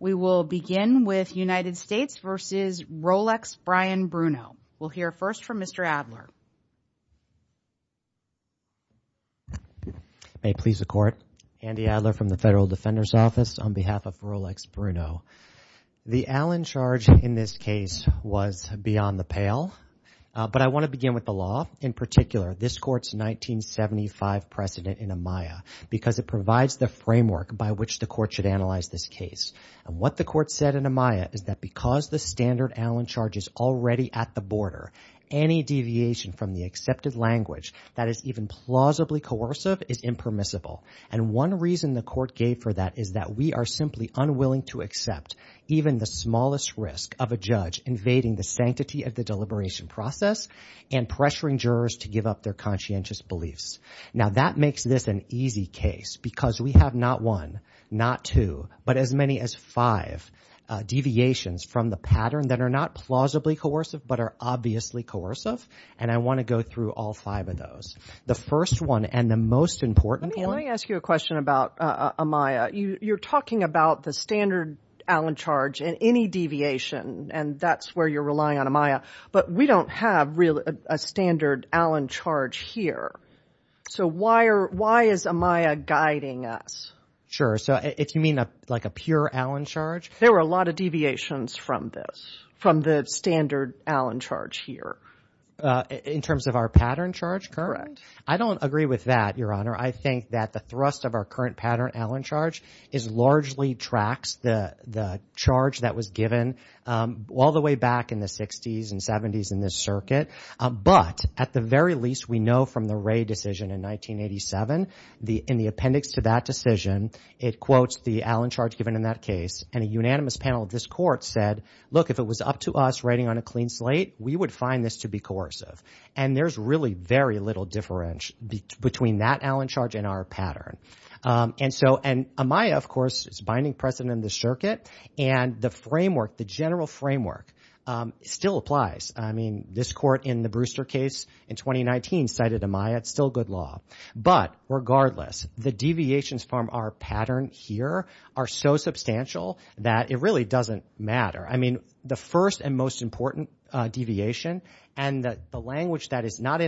We will begin with United States v. Rolex Bryan Bruno. We'll hear first from Mr. Adler. May it please the Court, Andy Adler from the Federal Defender's Office on behalf of Rolex Bruno. The Allen charge in this case was beyond the pale, but I want to begin with the law. In particular, this Court's 1975 precedent in Amaya because it provides the framework by which the Court should analyze this case. And what the Court said in Amaya is that because the standard Allen charge is already at the border, any deviation from the accepted language that is even plausibly coercive is impermissible. And one reason the Court gave for that is that we are simply unwilling to accept even the smallest risk of a judge invading the sanctity of the deliberation process and pressuring jurors to give up their conscientious beliefs. Now, that makes this an easy case because we have not one, not two, but as many as five deviations from the pattern that are not plausibly coercive, but are obviously coercive, and I want to go through all five of those. The first one and the most important one— Let me ask you a question about Amaya. You're talking about the standard Allen charge and any deviation, and that's where you're relying on Amaya. But we don't have a standard Allen charge here. So why is Amaya guiding us? Sure. So if you mean like a pure Allen charge? There were a lot of deviations from this, from the standard Allen charge here. In terms of our pattern charge? Correct. I don't agree with that, Your Honor. I think that the thrust of our current pattern Allen charge largely tracks the charge that was given all the way back in the 60s and 70s in this circuit. But at the very least, we know from the Wray decision in 1987, in the appendix to that decision, it quotes the Allen charge given in that case, and a unanimous panel of this Court said, look, if it was up to us writing on a clean slate, we would find this to be coercive. And there's really very little difference between that Allen charge and our pattern. And Amaya, of course, is binding precedent in this circuit, and the framework, the general framework still applies. I mean, this Court in the Brewster case in 2019 cited Amaya. It's still good law. But regardless, the deviations from our pattern here are so substantial that it really doesn't matter. I mean, the first and most important deviation and the language that is not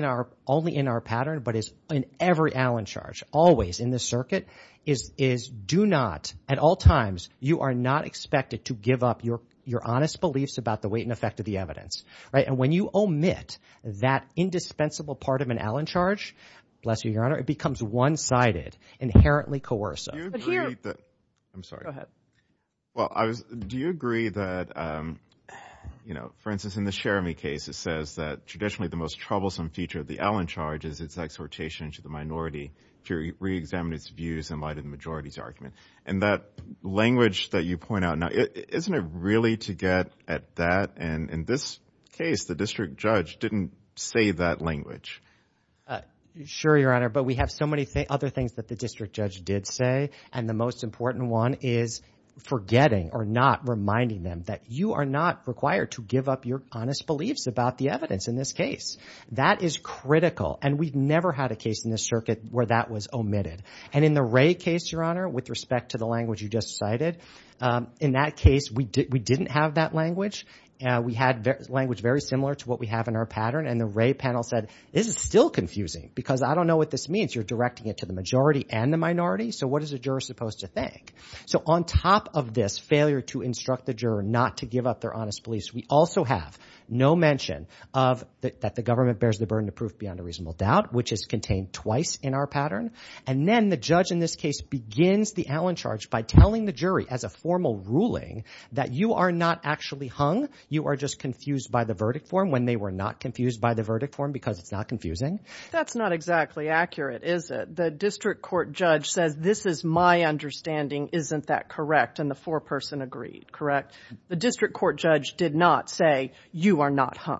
only in our pattern but is in every Allen charge always in this circuit is do not, at all times, you are not expected to give up your honest beliefs about the weight and effect of the evidence. And when you omit that indispensable part of an Allen charge, bless you, Your Honor, it becomes one-sided, inherently coercive. I'm sorry. Go ahead. Well, do you agree that, you know, for instance, in the Cherami case, it says that traditionally the most troublesome feature of the Allen charge is its exhortation to the minority to reexamine its views in light of the majority's argument? And that language that you point out now, isn't it really to get at that? And in this case, the district judge didn't say that language. Sure, Your Honor, but we have so many other things that the district judge did say, and the most important one is forgetting or not reminding them that you are not required to give up your honest beliefs about the evidence in this case. That is critical, and we've never had a case in this circuit where that was omitted. And in the Wray case, Your Honor, with respect to the language you just cited, in that case we didn't have that language. We had language very similar to what we have in our pattern, and the Wray panel said, this is still confusing because I don't know what this means. You're directing it to the majority and the minority, so what is a juror supposed to think? So on top of this failure to instruct the juror not to give up their honest beliefs, we also have no mention that the government bears the burden of proof beyond a reasonable doubt, which is contained twice in our pattern. And then the judge in this case begins the Allen charge by telling the jury, as a formal ruling, that you are not actually hung, you are just confused by the verdict form, when they were not confused by the verdict form because it's not confusing. That's not exactly accurate, is it? The district court judge says this is my understanding, isn't that correct? And the foreperson agreed, correct? The district court judge did not say you are not hung.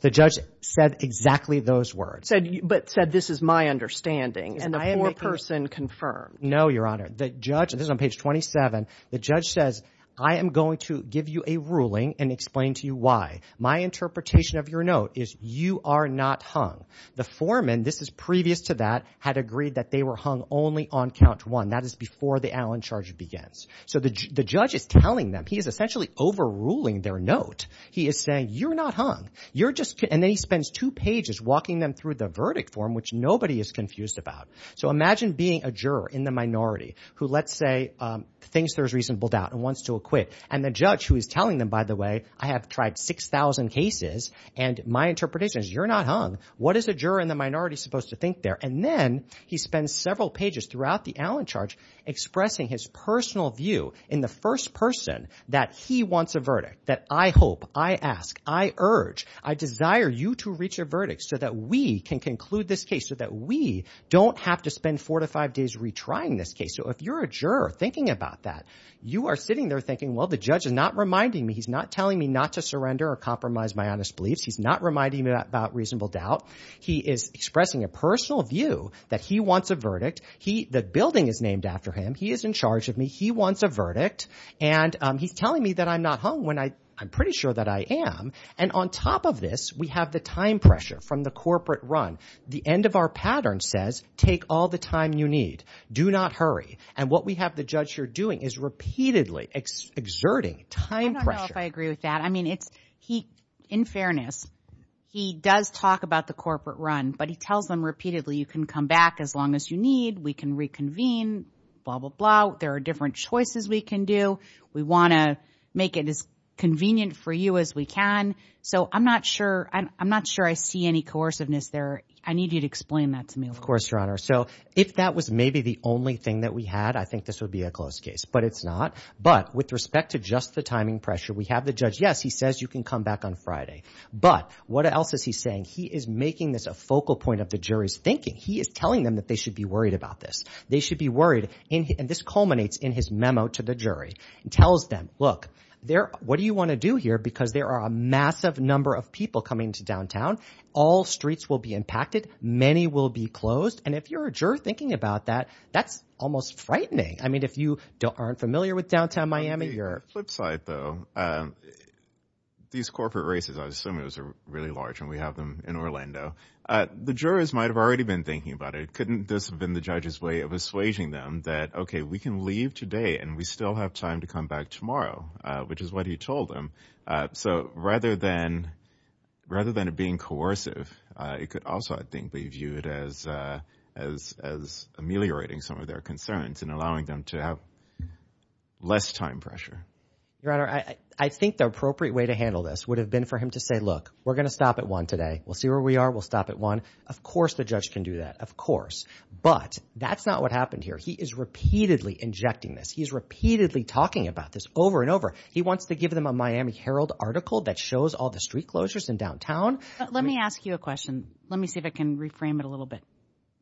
The judge said exactly those words. But said this is my understanding. And the foreperson confirmed. No, Your Honor. The judge, this is on page 27, the judge says, I am going to give you a ruling and explain to you why. My interpretation of your note is you are not hung. The foreman, this is previous to that, had agreed that they were hung only on count one. That is before the Allen charge begins. So the judge is telling them. He is essentially overruling their note. He is saying you are not hung. And then he spends two pages walking them through the verdict form, which nobody is confused about. So imagine being a juror in the minority who, let's say, thinks there is reasonable doubt and wants to acquit. And the judge who is telling them, by the way, I have tried 6,000 cases, and my interpretation is you are not hung. What is a juror in the minority supposed to think there? And then he spends several pages throughout the Allen charge expressing his personal view in the first person that he wants a verdict, that I hope, I ask, I urge, I desire you to reach a verdict so that we can conclude this case, so that we don't have to spend four to five days retrying this case. So if you're a juror thinking about that, you are sitting there thinking, well, the judge is not reminding me. He's not telling me not to surrender or compromise my honest beliefs. He's not reminding me about reasonable doubt. He is expressing a personal view that he wants a verdict. The building is named after him. He is in charge of me. He wants a verdict. And he's telling me that I'm not hung when I'm pretty sure that I am. And on top of this, we have the time pressure from the corporate run. The end of our pattern says take all the time you need. Do not hurry. And what we have the judge here doing is repeatedly exerting time pressure. I don't know if I agree with that. In fairness, he does talk about the corporate run, but he tells them repeatedly, you can come back as long as you need. We can reconvene, blah, blah, blah. There are different choices we can do. We want to make it as convenient for you as we can. So I'm not sure I see any coerciveness there. I need you to explain that to me. Of course, Your Honor. So if that was maybe the only thing that we had, I think this would be a close case. But it's not. But with respect to just the timing pressure, we have the judge. Yes, he says you can come back on Friday. But what else is he saying? He is making this a focal point of the jury's thinking. He is telling them that they should be worried about this. They should be worried. And this culminates in his memo to the jury. It tells them, look, what do you want to do here? Because there are a massive number of people coming to downtown. All streets will be impacted. Many will be closed. And if you're a juror thinking about that, that's almost frightening. I mean, if you aren't familiar with downtown Miami, you're – On the flip side, though, these corporate races, I assume it was really large, and we have them in Orlando. The jurors might have already been thinking about it. Couldn't this have been the judge's way of assuaging them that, okay, we can leave today and we still have time to come back tomorrow, which is what he told them. So rather than it being coercive, it could also, I think, be viewed as ameliorating some of their concerns and allowing them to have less time pressure. Your Honor, I think the appropriate way to handle this would have been for him to say, look, we're going to stop at one today. We'll see where we are. We'll stop at one. Of course the judge can do that. Of course. But that's not what happened here. He is repeatedly injecting this. He is repeatedly talking about this over and over. He wants to give them a Miami Herald article that shows all the street closures in downtown. Let me ask you a question. Let me see if I can reframe it a little bit.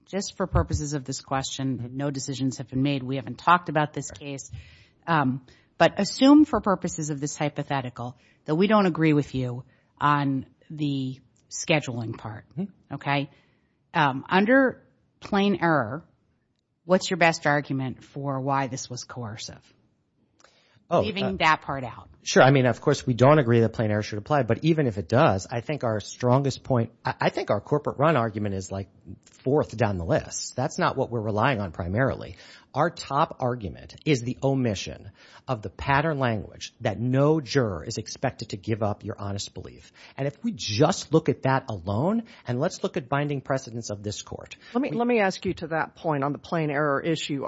Just for purposes of this question, no decisions have been made. We haven't talked about this case. But assume for purposes of this hypothetical that we don't agree with you on the scheduling part, okay? Under plain error, what's your best argument for why this was coercive, leaving that part out? Sure. I mean, of course, we don't agree that plain error should apply. But even if it does, I think our strongest point, I think our corporate run argument is, like, fourth down the list. That's not what we're relying on primarily. Our top argument is the omission of the pattern language that no juror is expected to give up your honest belief. And if we just look at that alone, and let's look at binding precedence of this court. Let me ask you to that point on the plain error issue.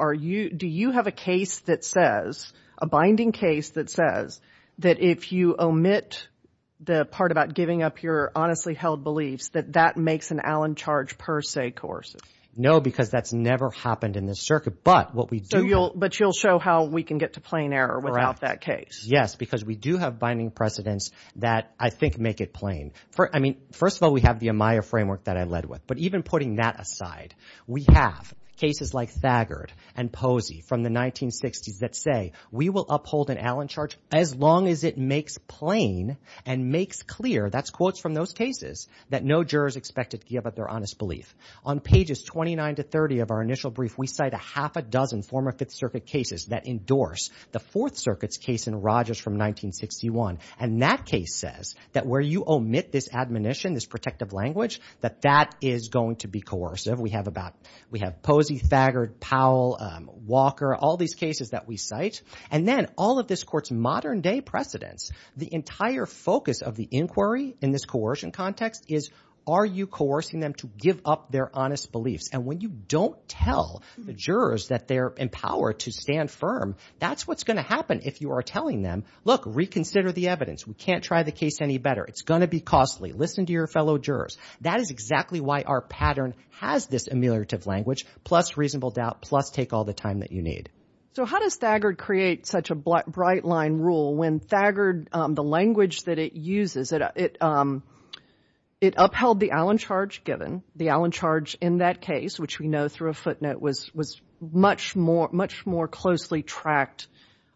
Do you have a case that says, a binding case that says that if you omit the part about giving up your honestly held beliefs, that that makes an Allen charge per se coercive? No, because that's never happened in this circuit. But what we do have. But you'll show how we can get to plain error without that case. Correct. Yes, because we do have binding precedence that I think make it plain. I mean, first of all, we have the Amaya framework that I led with. But even putting that aside, we have cases like Thagard and Posey from the That's quotes from those cases that no juror is expected to give up their honest belief. On pages 29 to 30 of our initial brief, we cite a half a dozen former Fifth Circuit cases that endorse the Fourth Circuit's case in Rogers from 1961. And that case says that where you omit this admonition, this protective language, that that is going to be coercive. We have Posey, Thagard, Powell, Walker, all these cases that we cite. And then all of this court's modern day precedence, the entire focus of the inquiry in this coercion context is, are you coercing them to give up their honest beliefs? And when you don't tell the jurors that they're empowered to stand firm, that's what's going to happen if you are telling them, look, reconsider the evidence. We can't try the case any better. It's going to be costly. Listen to your fellow jurors. That is exactly why our pattern has this ameliorative language, plus reasonable doubt, plus take all the time that you need. So how does Thagard create such a bright line rule when Thagard, the language that it uses, it upheld the Allen charge given, the Allen charge in that case, which we know through a footnote, was much more closely tracked,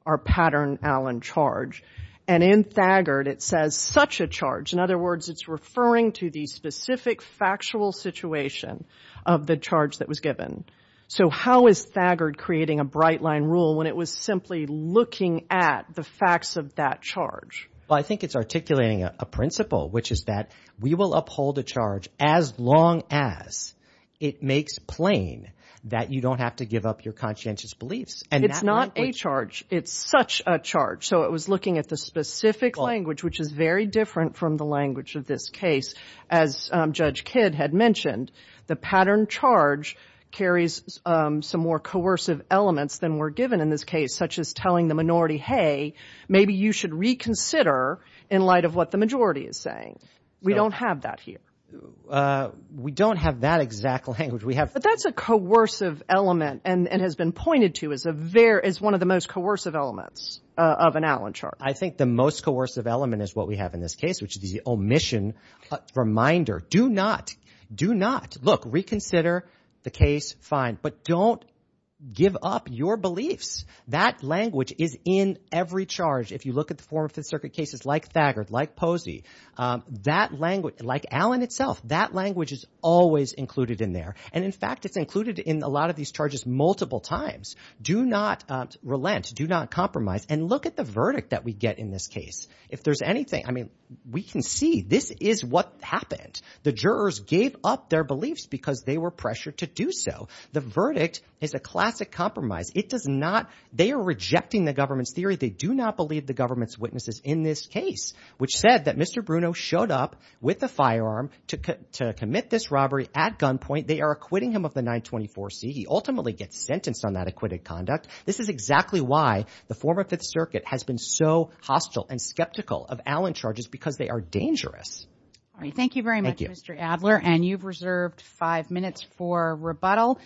our pattern Allen charge. And in Thagard it says, such a charge. In other words, it's referring to the specific factual situation of the charge that was given. So how is Thagard creating a bright line rule when it was simply looking at the facts of that charge? Well, I think it's articulating a principle, which is that we will uphold a charge as long as it makes plain that you don't have to give up your conscientious beliefs. It's not a charge. It's such a charge. So it was looking at the specific language, which is very different from the language of this case. As Judge Kidd had mentioned, the pattern charge carries some more coercive elements than were given in this case, such as telling the minority, hey, maybe you should reconsider in light of what the majority is saying. We don't have that here. We don't have that exact language. But that's a coercive element and has been pointed to as one of the most coercive elements of an Allen charge. I think the most coercive element is what we have in this case, which is the omission reminder. Do not, do not, look, reconsider the case. Fine. But don't give up your beliefs. That language is in every charge. If you look at the former Fifth Circuit cases like Thagard, like Posey, that language, like Allen itself, that language is always included in there. And in fact, it's included in a lot of these charges multiple times. Do not relent. Do not compromise. And look at the verdict that we get in this case. If there's anything, I mean, we can see this is what happened. The jurors gave up their beliefs because they were pressured to do so. The verdict is a classic compromise. It does not, they are rejecting the government's theory. They do not believe the government's witnesses in this case, which said that Mr. Bruno showed up with a firearm to commit this robbery at gunpoint. They are acquitting him of the 924C. He ultimately gets sentenced on that acquitted conduct. This is exactly why the former Fifth Circuit has been so hostile and skeptical of Allen charges because they are dangerous. All right. Thank you very much, Mr. Adler. And you've reserved five minutes for rebuttal.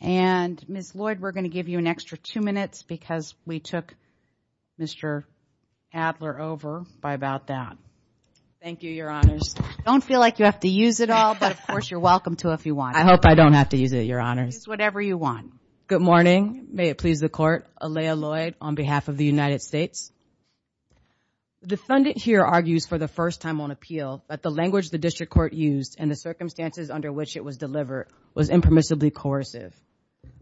And, Ms. Lloyd, we're going to give you an extra two minutes because we took Mr. Adler over by about that. Thank you, Your Honors. I don't feel like you have to use it all, but, of course, you're welcome to if you want. I hope I don't have to use it, Your Honors. Use whatever you want. Good morning. May it please the Court. Aleah Lloyd on behalf of the United States. The defendant here argues for the first time on appeal that the language the district court used and the circumstances under which it was delivered was impermissibly coercive.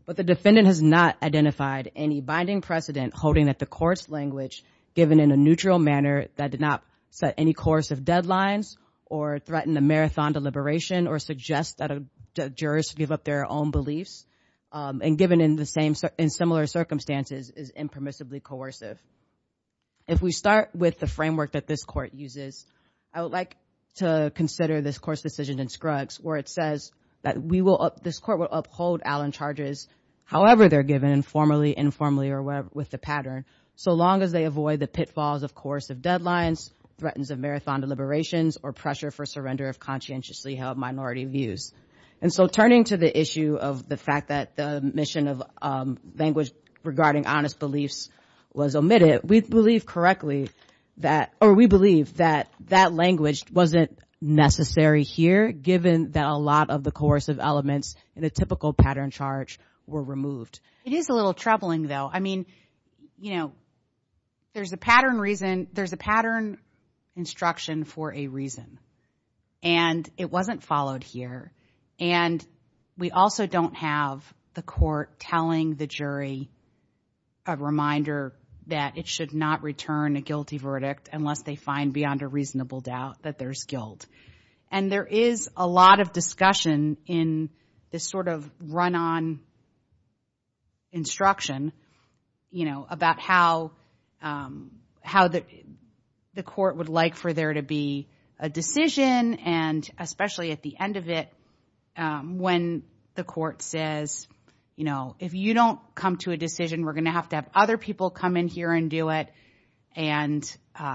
But the defendant has not identified any binding precedent holding that the court's language, given in a neutral manner that did not set any coercive deadlines or threaten the marathon to liberation or suggest that jurors give up their own beliefs, and given in similar circumstances, is impermissibly coercive. If we start with the framework that this Court uses, I would like to consider this Court's decision in Scruggs where it says that this Court will uphold Allen charges, however they're given, formally, informally, or whatever, with the pattern, so long as they avoid the pitfalls of coercive deadlines, threatens of marathon deliberations, or pressure for surrender of conscientiously held minority views. And so turning to the issue of the fact that the mission of language regarding honest beliefs was omitted, we believe correctly that, or we believe that that language wasn't necessary here, given that a lot of the coercive elements in a typical pattern charge were removed. It is a little troubling, though. I mean, you know, there's a pattern reason, there's a pattern instruction for a reason, and it wasn't followed here. And we also don't have the Court telling the jury a reminder that it should not return a guilty verdict unless they find beyond a reasonable doubt that there's guilt. And there is a lot of discussion in this sort of run-on instruction, you know, about how the Court would like for there to be a decision, and especially at the end of it, when the Court says, you know, if you don't come to a decision, we're going to have to have other people come in here and do it, and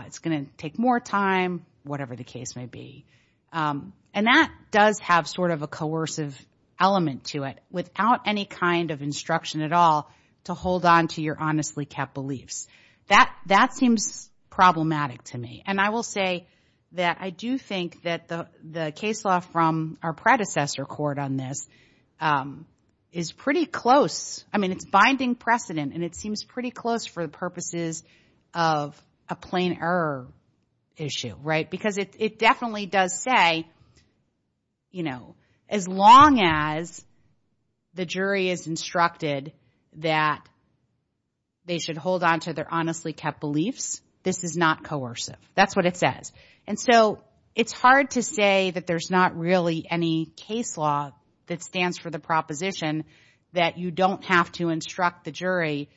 it's going to take more time, whatever the case may be. And that does have sort of a coercive element to it, without any kind of instruction at all to hold on to your honestly kept beliefs. That seems problematic to me. And I will say that I do think that the case law from our predecessor court on this is pretty close. I mean, it's binding precedent, and it seems pretty close for the purposes of a plain error issue, right? Because it definitely does say, you know, as long as the jury is instructed that they should hold on to their honestly kept beliefs, this is not coercive. That's what it says. And so it's hard to say that there's not really any case law that stands for the proposition that you don't have to instruct the jury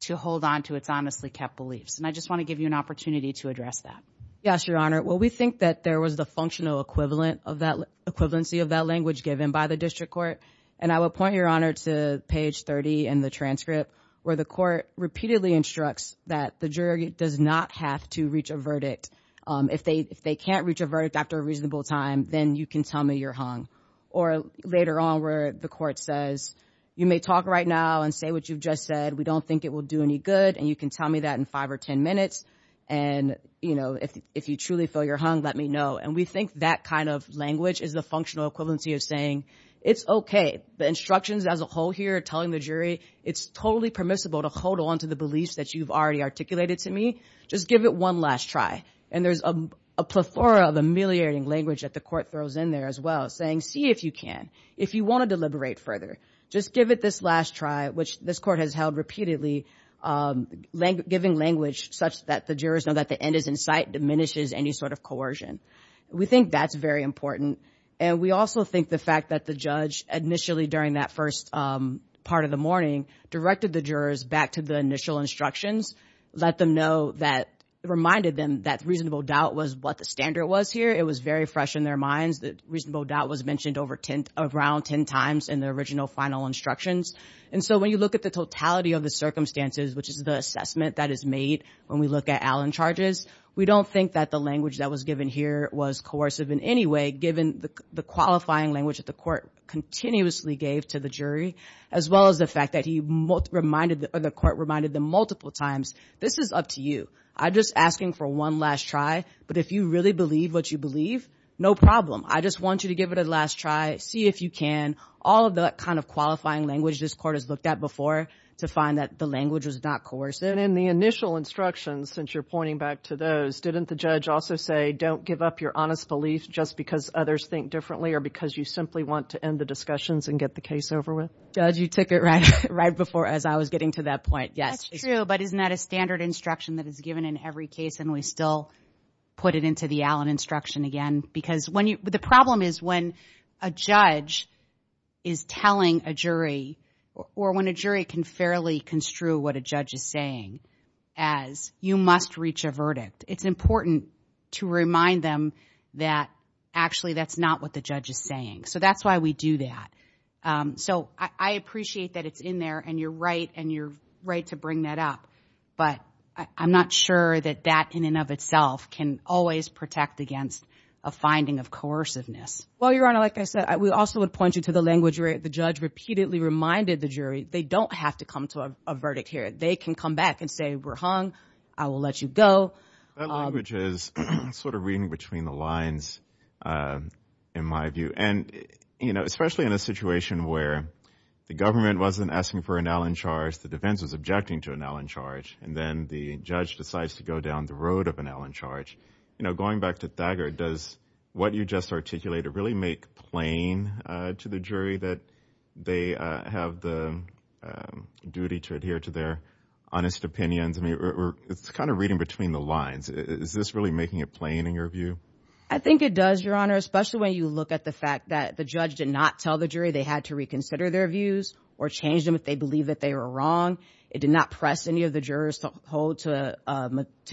to hold on to its honestly kept beliefs. And I just want to give you an opportunity to address that. Yes, Your Honor. Well, we think that there was the functional equivalency of that language given by the district court. And I will point, Your Honor, to page 30 in the transcript, where the court repeatedly instructs that the jury does not have to reach a verdict. If they can't reach a verdict after a reasonable time, then you can tell me you're hung. Or later on where the court says, you may talk right now and say what you've just said. We don't think it will do any good, and you can tell me that in five or ten minutes. And, you know, if you truly feel you're hung, let me know. And we think that kind of language is the functional equivalency of saying it's okay. The instructions as a whole here telling the jury it's totally permissible to hold on to the beliefs that you've already articulated to me, just give it one last try. And there's a plethora of ameliorating language that the court throws in there as well, saying see if you can. If you want to deliberate further, just give it this last try, which this court has held repeatedly giving language such that the jurors know that the end is in sight, diminishes any sort of coercion. We think that's very important. And we also think the fact that the judge initially during that first part of the morning directed the jurors back to the initial instructions, reminded them that reasonable doubt was what the standard was here. It was very fresh in their minds that reasonable doubt was mentioned around ten times in the original final instructions. And so when you look at the totality of the circumstances, which is the assessment that is made when we look at Allen charges, we don't think that the language that was given here was coercive in any way, given the qualifying language that the court continuously gave to the jury, as well as the fact that the court reminded them multiple times this is up to you. I'm just asking for one last try. But if you really believe what you believe, no problem. I just want you to give it a last try. See if you can. All of the kind of qualifying language this court has looked at before to find that the language was not coercive. And in the initial instructions, since you're pointing back to those, didn't the judge also say don't give up your honest belief just because others think differently or because you simply want to end the discussions and get the case over with? Judge, you took it right before as I was getting to that point. Yes. That's true, but isn't that a standard instruction that is given in every case and we still put it into the Allen instruction again? The problem is when a judge is telling a jury or when a jury can fairly construe what a judge is saying as you must reach a verdict, it's important to remind them that actually that's not what the judge is saying. So that's why we do that. So I appreciate that it's in there and you're right and you're right to bring that up, but I'm not sure that that in and of itself can always protect against a finding of coerciveness. Well, Your Honor, like I said, we also would point you to the language where the judge repeatedly reminded the jury they don't have to come to a verdict here. They can come back and say we're hung, I will let you go. That language is sort of reading between the lines in my view, and especially in a situation where the government wasn't asking for an Allen charge, the defense was objecting to an Allen charge, and then the judge decides to go down the road of an Allen charge. Going back to Thagard, does what you just articulated really make plain to the jury that they have the duty to adhere to their honest opinions? It's kind of reading between the lines. Is this really making it plain in your view? I think it does, Your Honor, especially when you look at the fact that the judge did not tell the jury they had to reconsider their views or change them if they believe that they were wrong. It did not press any of the jurors to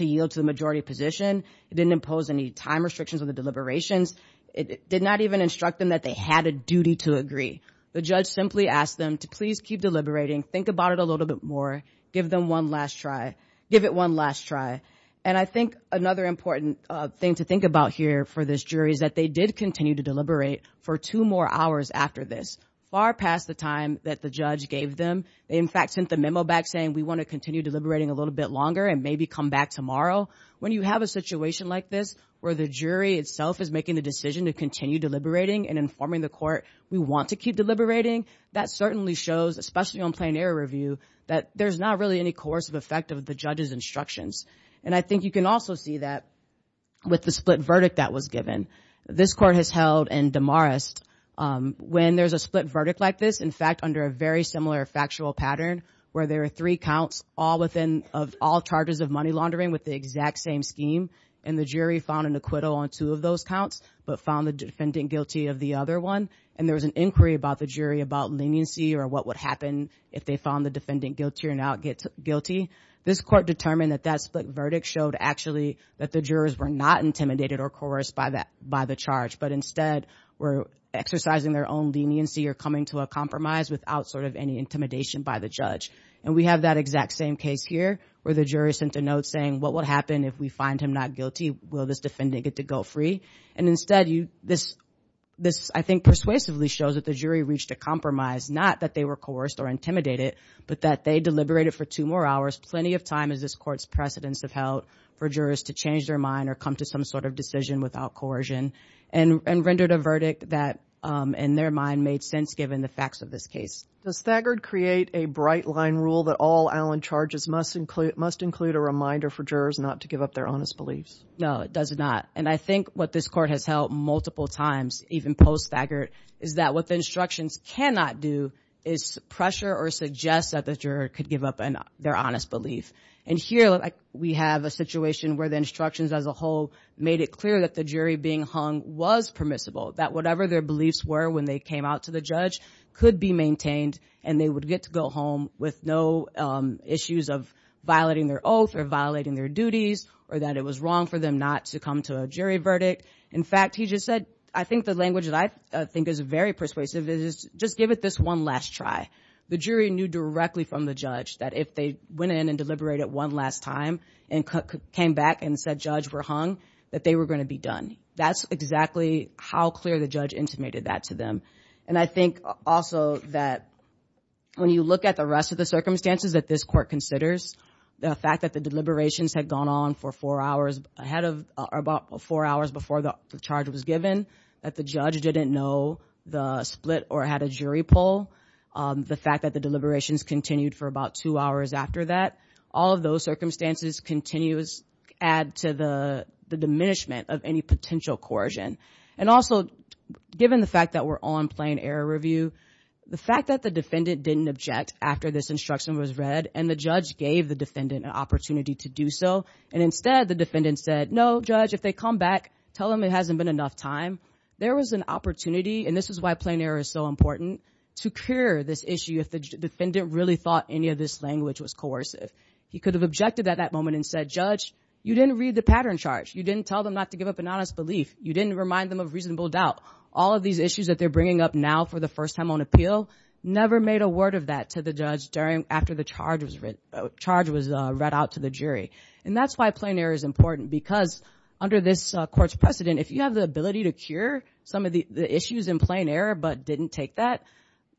yield to the majority position. It didn't impose any time restrictions on the deliberations. It did not even instruct them that they had a duty to agree. The judge simply asked them to please keep deliberating, think about it a little bit more, give it one last try, and I think another important thing to think about here for this jury is that they did continue to deliberate for two more hours after this, far past the time that the judge gave them. They, in fact, sent the memo back saying we want to continue deliberating a little bit longer and maybe come back tomorrow. When you have a situation like this where the jury itself is making the decision to continue deliberating and informing the court we want to keep deliberating, that certainly shows, especially on plain error review, that there's not really any coercive effect of the judge's instructions. And I think you can also see that with the split verdict that was given. This court has held and demoralized. When there's a split verdict like this, in fact, under a very similar factual pattern where there are three counts of all charges of money laundering with the exact same scheme and the jury found an acquittal on two of those counts but found the defendant guilty of the other one and there was an inquiry about the jury about leniency or what would happen if they found the defendant guilty or not guilty, this court determined that that split verdict showed actually that the jurors were not intimidated or coerced by the charge but instead were exercising their own leniency or coming to a compromise without sort of any intimidation by the judge. And we have that exact same case here where the jury sent a note saying what would happen if we find him not guilty? Will this defendant get to go free? And instead this, I think, persuasively shows that the jury reached a compromise, not that they were coerced or intimidated, but that they deliberated for two more hours, plenty of time as this court's precedents have held, for jurors to change their mind or come to some sort of decision without coercion and rendered a verdict that in their mind made sense given the facts of this case. Does Thagard create a bright-line rule that all Allen charges must include a reminder for jurors not to give up their honest beliefs? No, it does not. And I think what this court has held multiple times, even post-Thagard, is that what the instructions cannot do is pressure or suggest that the juror could give up their honest belief. And here we have a situation where the instructions as a whole made it clear that the jury being hung was permissible, that whatever their beliefs were when they came out to the judge could be maintained and they would get to go home with no issues of violating their oath or violating their duties or that it was wrong for them not to come to a jury verdict. In fact, he just said, I think the language that I think is very persuasive is just give it this one last try. The jury knew directly from the judge that if they went in and deliberated one last time and came back and said judge, we're hung, that they were going to be done. That's exactly how clear the judge intimated that to them. And I think also that when you look at the rest of the circumstances that this court considers, the fact that the deliberations had gone on for four hours ahead of or about four hours before the charge was given, that the judge didn't know the split or had a jury pull, the fact that the deliberations continued for about two hours after that, all of those circumstances continues add to the diminishment of any potential coercion. And also, given the fact that we're on plain error review, the fact that the defendant didn't object after this instruction was read and the judge gave the defendant an opportunity to do so. And instead, the defendant said, no, judge, if they come back, tell them it hasn't been enough time. There was an opportunity, and this is why plain error is so important, to cure this issue if the defendant really thought any of this language was coercive. He could have objected at that moment and said, judge, you didn't read the pattern charge. You didn't tell them not to give up an honest belief. You didn't remind them of reasonable doubt. All of these issues that they're bringing up now for the first time on appeal, never made a word of that to the judge after the charge was read out to the jury. And that's why plain error is important, because under this court's precedent, if you have the ability to cure some of the issues in plain error but didn't take that,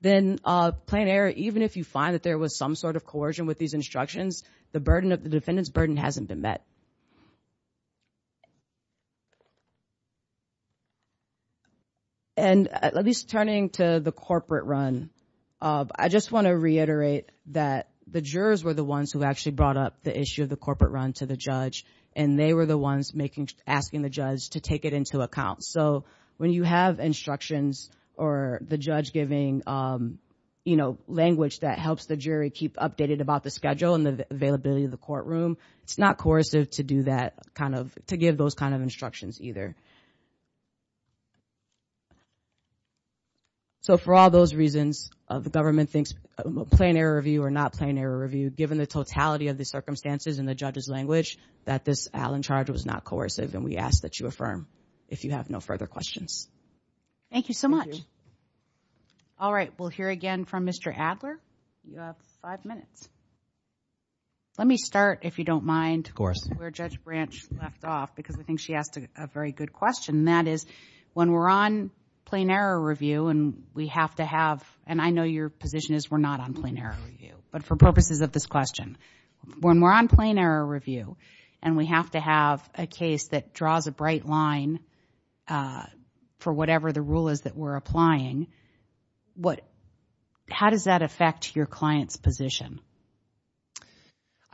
then plain error, even if you find that there was some sort of coercion with these instructions, the defendant's burden hasn't been met. And at least turning to the corporate run, I just want to reiterate that the jurors were the ones who actually brought up the issue of the corporate run to the judge, and they were the ones asking the judge to take it into account. So when you have instructions or the judge giving, you know, language that helps the jury keep updated about the schedule and the availability of the courtroom, it's not coercive to give those kind of instructions either. So for all those reasons, the government thinks plain error review or not plain error review, given the totality of the circumstances and the judge's language, that this Allen charge was not coercive, and we ask that you affirm if you have no further questions. Thank you so much. All right, we'll hear again from Mr. Adler. You have five minutes. Let me start, if you don't mind. Where Judge Branch left off, because I think she asked a very good question, and that is when we're on plain error review and we have to have, and I know your position is we're not on plain error review, but for purposes of this question, when we're on plain error review and we have to have a case that draws a bright line for whatever the rule is that we're applying, how does that affect your client's position?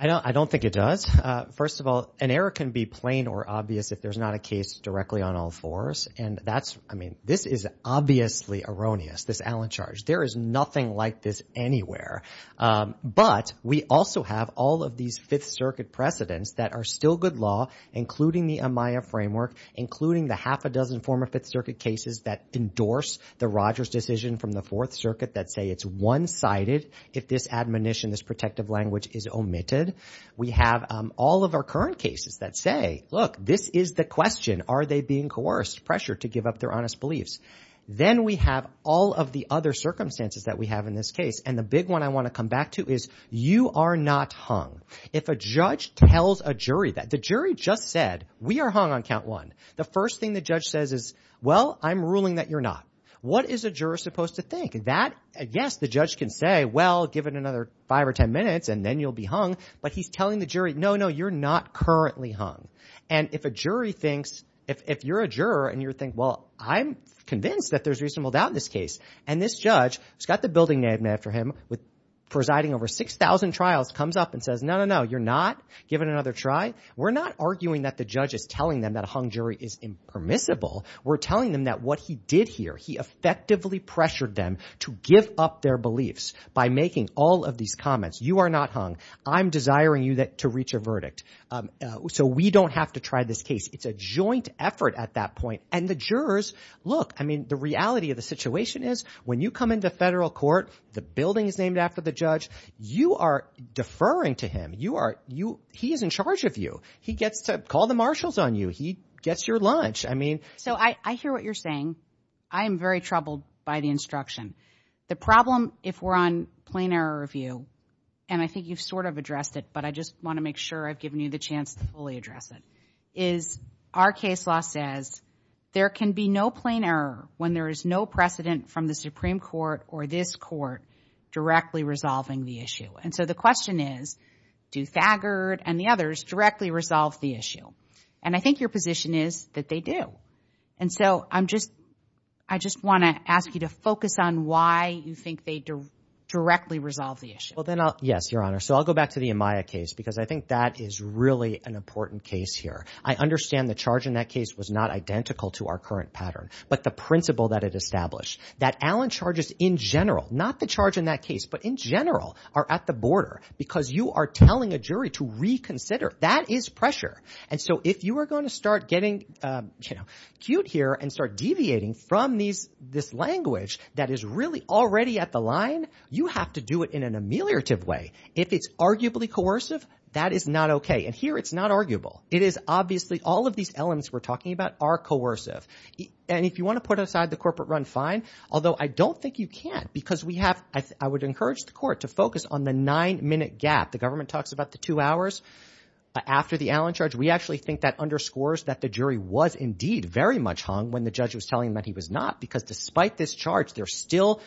I don't think it does. First of all, an error can be plain or obvious if there's not a case directly on all fours, and that's, I mean, this is obviously erroneous, this Allen charge. There is nothing like this anywhere. But we also have all of these Fifth Circuit precedents that are still good law, including the AMAYA framework, including the half a dozen former Fifth Circuit cases that endorse the Rogers decision from the Fourth Circuit that say it's one-sided if this admonition, this protective language is omitted. We have all of our current cases that say, look, this is the question. Are they being coerced, pressured to give up their honest beliefs? Then we have all of the other circumstances that we have in this case, and the big one I want to come back to is you are not hung. If a judge tells a jury that the jury just said we are hung on count one, the first thing the judge says is, well, I'm ruling that you're not. What is a juror supposed to think? Yes, the judge can say, well, give it another five or ten minutes and then you'll be hung, but he's telling the jury, no, no, you're not currently hung. And if a jury thinks, if you're a juror and you think, well, I'm convinced that there's reasonable doubt in this case, and this judge, who's got the building named after him, presiding over 6,000 trials, comes up and says, no, no, no, you're not. Give it another try. We're not arguing that the judge is telling them that a hung jury is impermissible. We're telling them that what he did here, he effectively pressured them to give up their beliefs by making all of these comments. You are not hung. I'm desiring you to reach a verdict so we don't have to try this case. It's a joint effort at that point. And the jurors, look, I mean, the reality of the situation is when you come into federal court, the building is named after the judge, you are deferring to him. He is in charge of you. He gets to call the marshals on you. He gets your lunch. So I hear what you're saying. I am very troubled by the instruction. The problem if we're on plain error review, and I think you've sort of addressed it, but I just want to make sure I've given you the chance to fully address it, is our case law says there can be no plain error when there is no precedent from the Supreme Court or this court directly resolving the issue. And so the question is, do Thagard and the others directly resolve the issue? And I think your position is that they do. And so I just want to ask you to focus on why you think they directly resolve the issue. Yes, Your Honor. So I'll go back to the Amaya case because I think that is really an important case here. I understand the charge in that case was not identical to our current pattern, but the principle that it established, that Allen charges in general, not the charge in that case, but in general are at the border because you are telling a jury to reconsider. That is pressure. And so if you are going to start getting cute here and start deviating from this language that is really already at the line, you have to do it in an ameliorative way. If it's arguably coercive, that is not okay. And here it's not arguable. It is obviously all of these elements we're talking about are coercive. And if you want to put aside the corporate run, fine, although I don't think you can because we have – I would encourage the court to focus on the nine-minute gap. The government talks about the two hours after the Allen charge. We actually think that underscores that the jury was indeed very much hung when the judge was telling them that he was not because despite this charge, they're still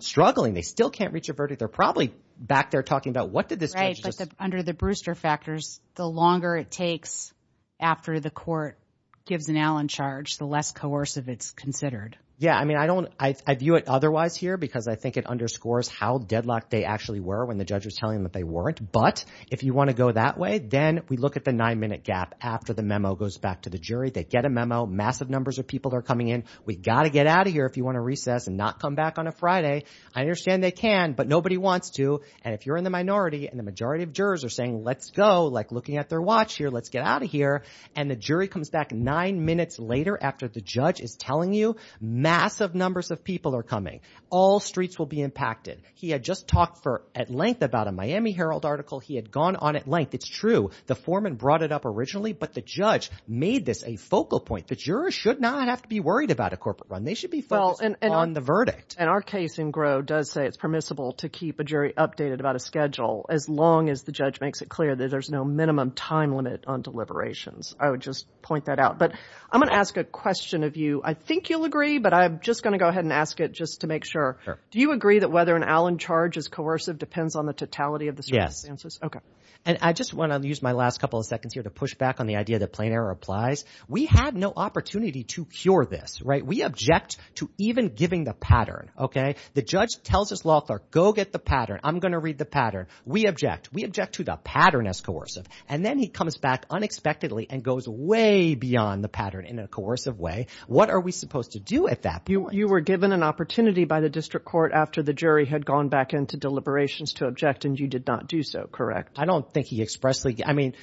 struggling. They still can't reach a verdict. They're probably back there talking about what did this judge just – Right, but under the Brewster factors, the longer it takes after the court gives an Allen charge, the less coercive it's considered. Yeah, I mean I don't – I view it otherwise here because I think it underscores how deadlocked they actually were when the judge was telling them that they weren't. But if you want to go that way, then we look at the nine-minute gap after the memo goes back to the jury. They get a memo. Massive numbers of people are coming in. We've got to get out of here if you want to recess and not come back on a Friday. I understand they can, but nobody wants to. And if you're in the minority and the majority of jurors are saying let's go, like looking at their watch here, let's get out of here, and the jury comes back nine minutes later after the judge is telling you massive numbers of people are coming, all streets will be impacted. He had just talked at length about a Miami Herald article. He had gone on at length. It's true. The foreman brought it up originally, but the judge made this a focal point. The jurors should not have to be worried about a corporate run. They should be focused on the verdict. And our case in Gros does say it's permissible to keep a jury updated about a schedule as long as the judge makes it clear that there's no minimum time limit on deliberations. I would just point that out. But I'm going to ask a question of you. I think you'll agree, but I'm just going to go ahead and ask it just to make sure. Do you agree that whether an Allen charge is coercive depends on the totality of the circumstances? Okay. And I just want to use my last couple of seconds here to push back on the idea that plain error applies. We had no opportunity to cure this, right? We object to even giving the pattern. Okay. The judge tells his law clerk, go get the pattern. I'm going to read the pattern. We object. We object to the pattern as coercive. And then he comes back unexpectedly and goes way beyond the pattern in a coercive way. What are we supposed to do at that point? You were given an opportunity by the district court after the jury had gone back into deliberations to object, and you did not do so, correct? I don't think he expressly – I mean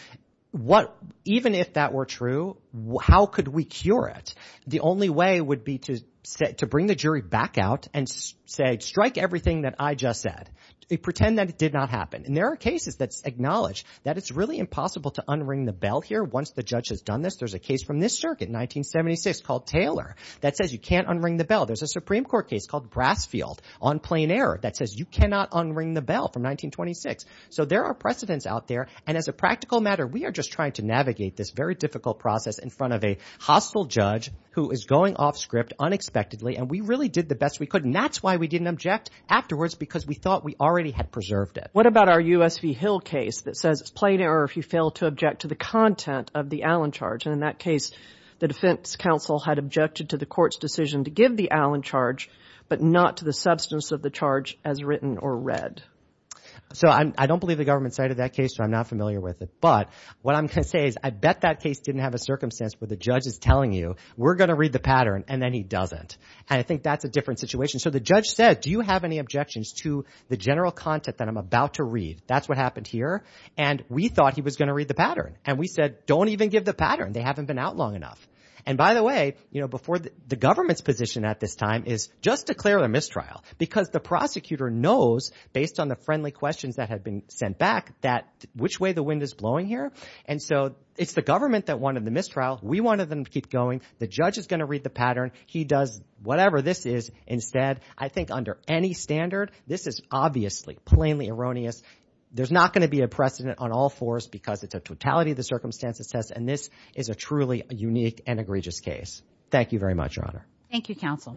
what – even if that were true, how could we cure it? The only way would be to bring the jury back out and say strike everything that I just said. Pretend that it did not happen. And there are cases that acknowledge that it's really impossible to unring the bell here once the judge has done this. There's a case from this circuit in 1976 called Taylor that says you can't unring the bell. There's a Supreme Court case called Brasfield on plain error that says you cannot unring the bell from 1926. So there are precedents out there. And as a practical matter, we are just trying to navigate this very difficult process in front of a hostile judge who is going off script unexpectedly, and we really did the best we could. And that's why we didn't object afterwards because we thought we already had preserved it. What about our U.S. v. Hill case that says it's plain error if you fail to object to the content of the Allen charge? And in that case, the defense counsel had objected to the court's decision to give the Allen charge but not to the substance of the charge as written or read. So I don't believe the government cited that case, so I'm not familiar with it. But what I'm going to say is I bet that case didn't have a circumstance where the judge is telling you we're going to read the pattern and then he doesn't. And I think that's a different situation. So the judge said, do you have any objections to the general content that I'm about to read? That's what happened here. And we thought he was going to read the pattern. And we said, don't even give the pattern. They haven't been out long enough. And by the way, before the government's position at this time is just declare a mistrial because the prosecutor knows based on the friendly questions that have been sent back that which way the wind is blowing here. And so it's the government that wanted the mistrial. We wanted them to keep going. The judge is going to read the pattern. He does whatever this is instead. I think under any standard, this is obviously plainly erroneous. There's not going to be a precedent on all fours because it's a totality of the circumstances test. And this is a truly unique and egregious case. Thank you very much, Your Honor. Thank you, counsel.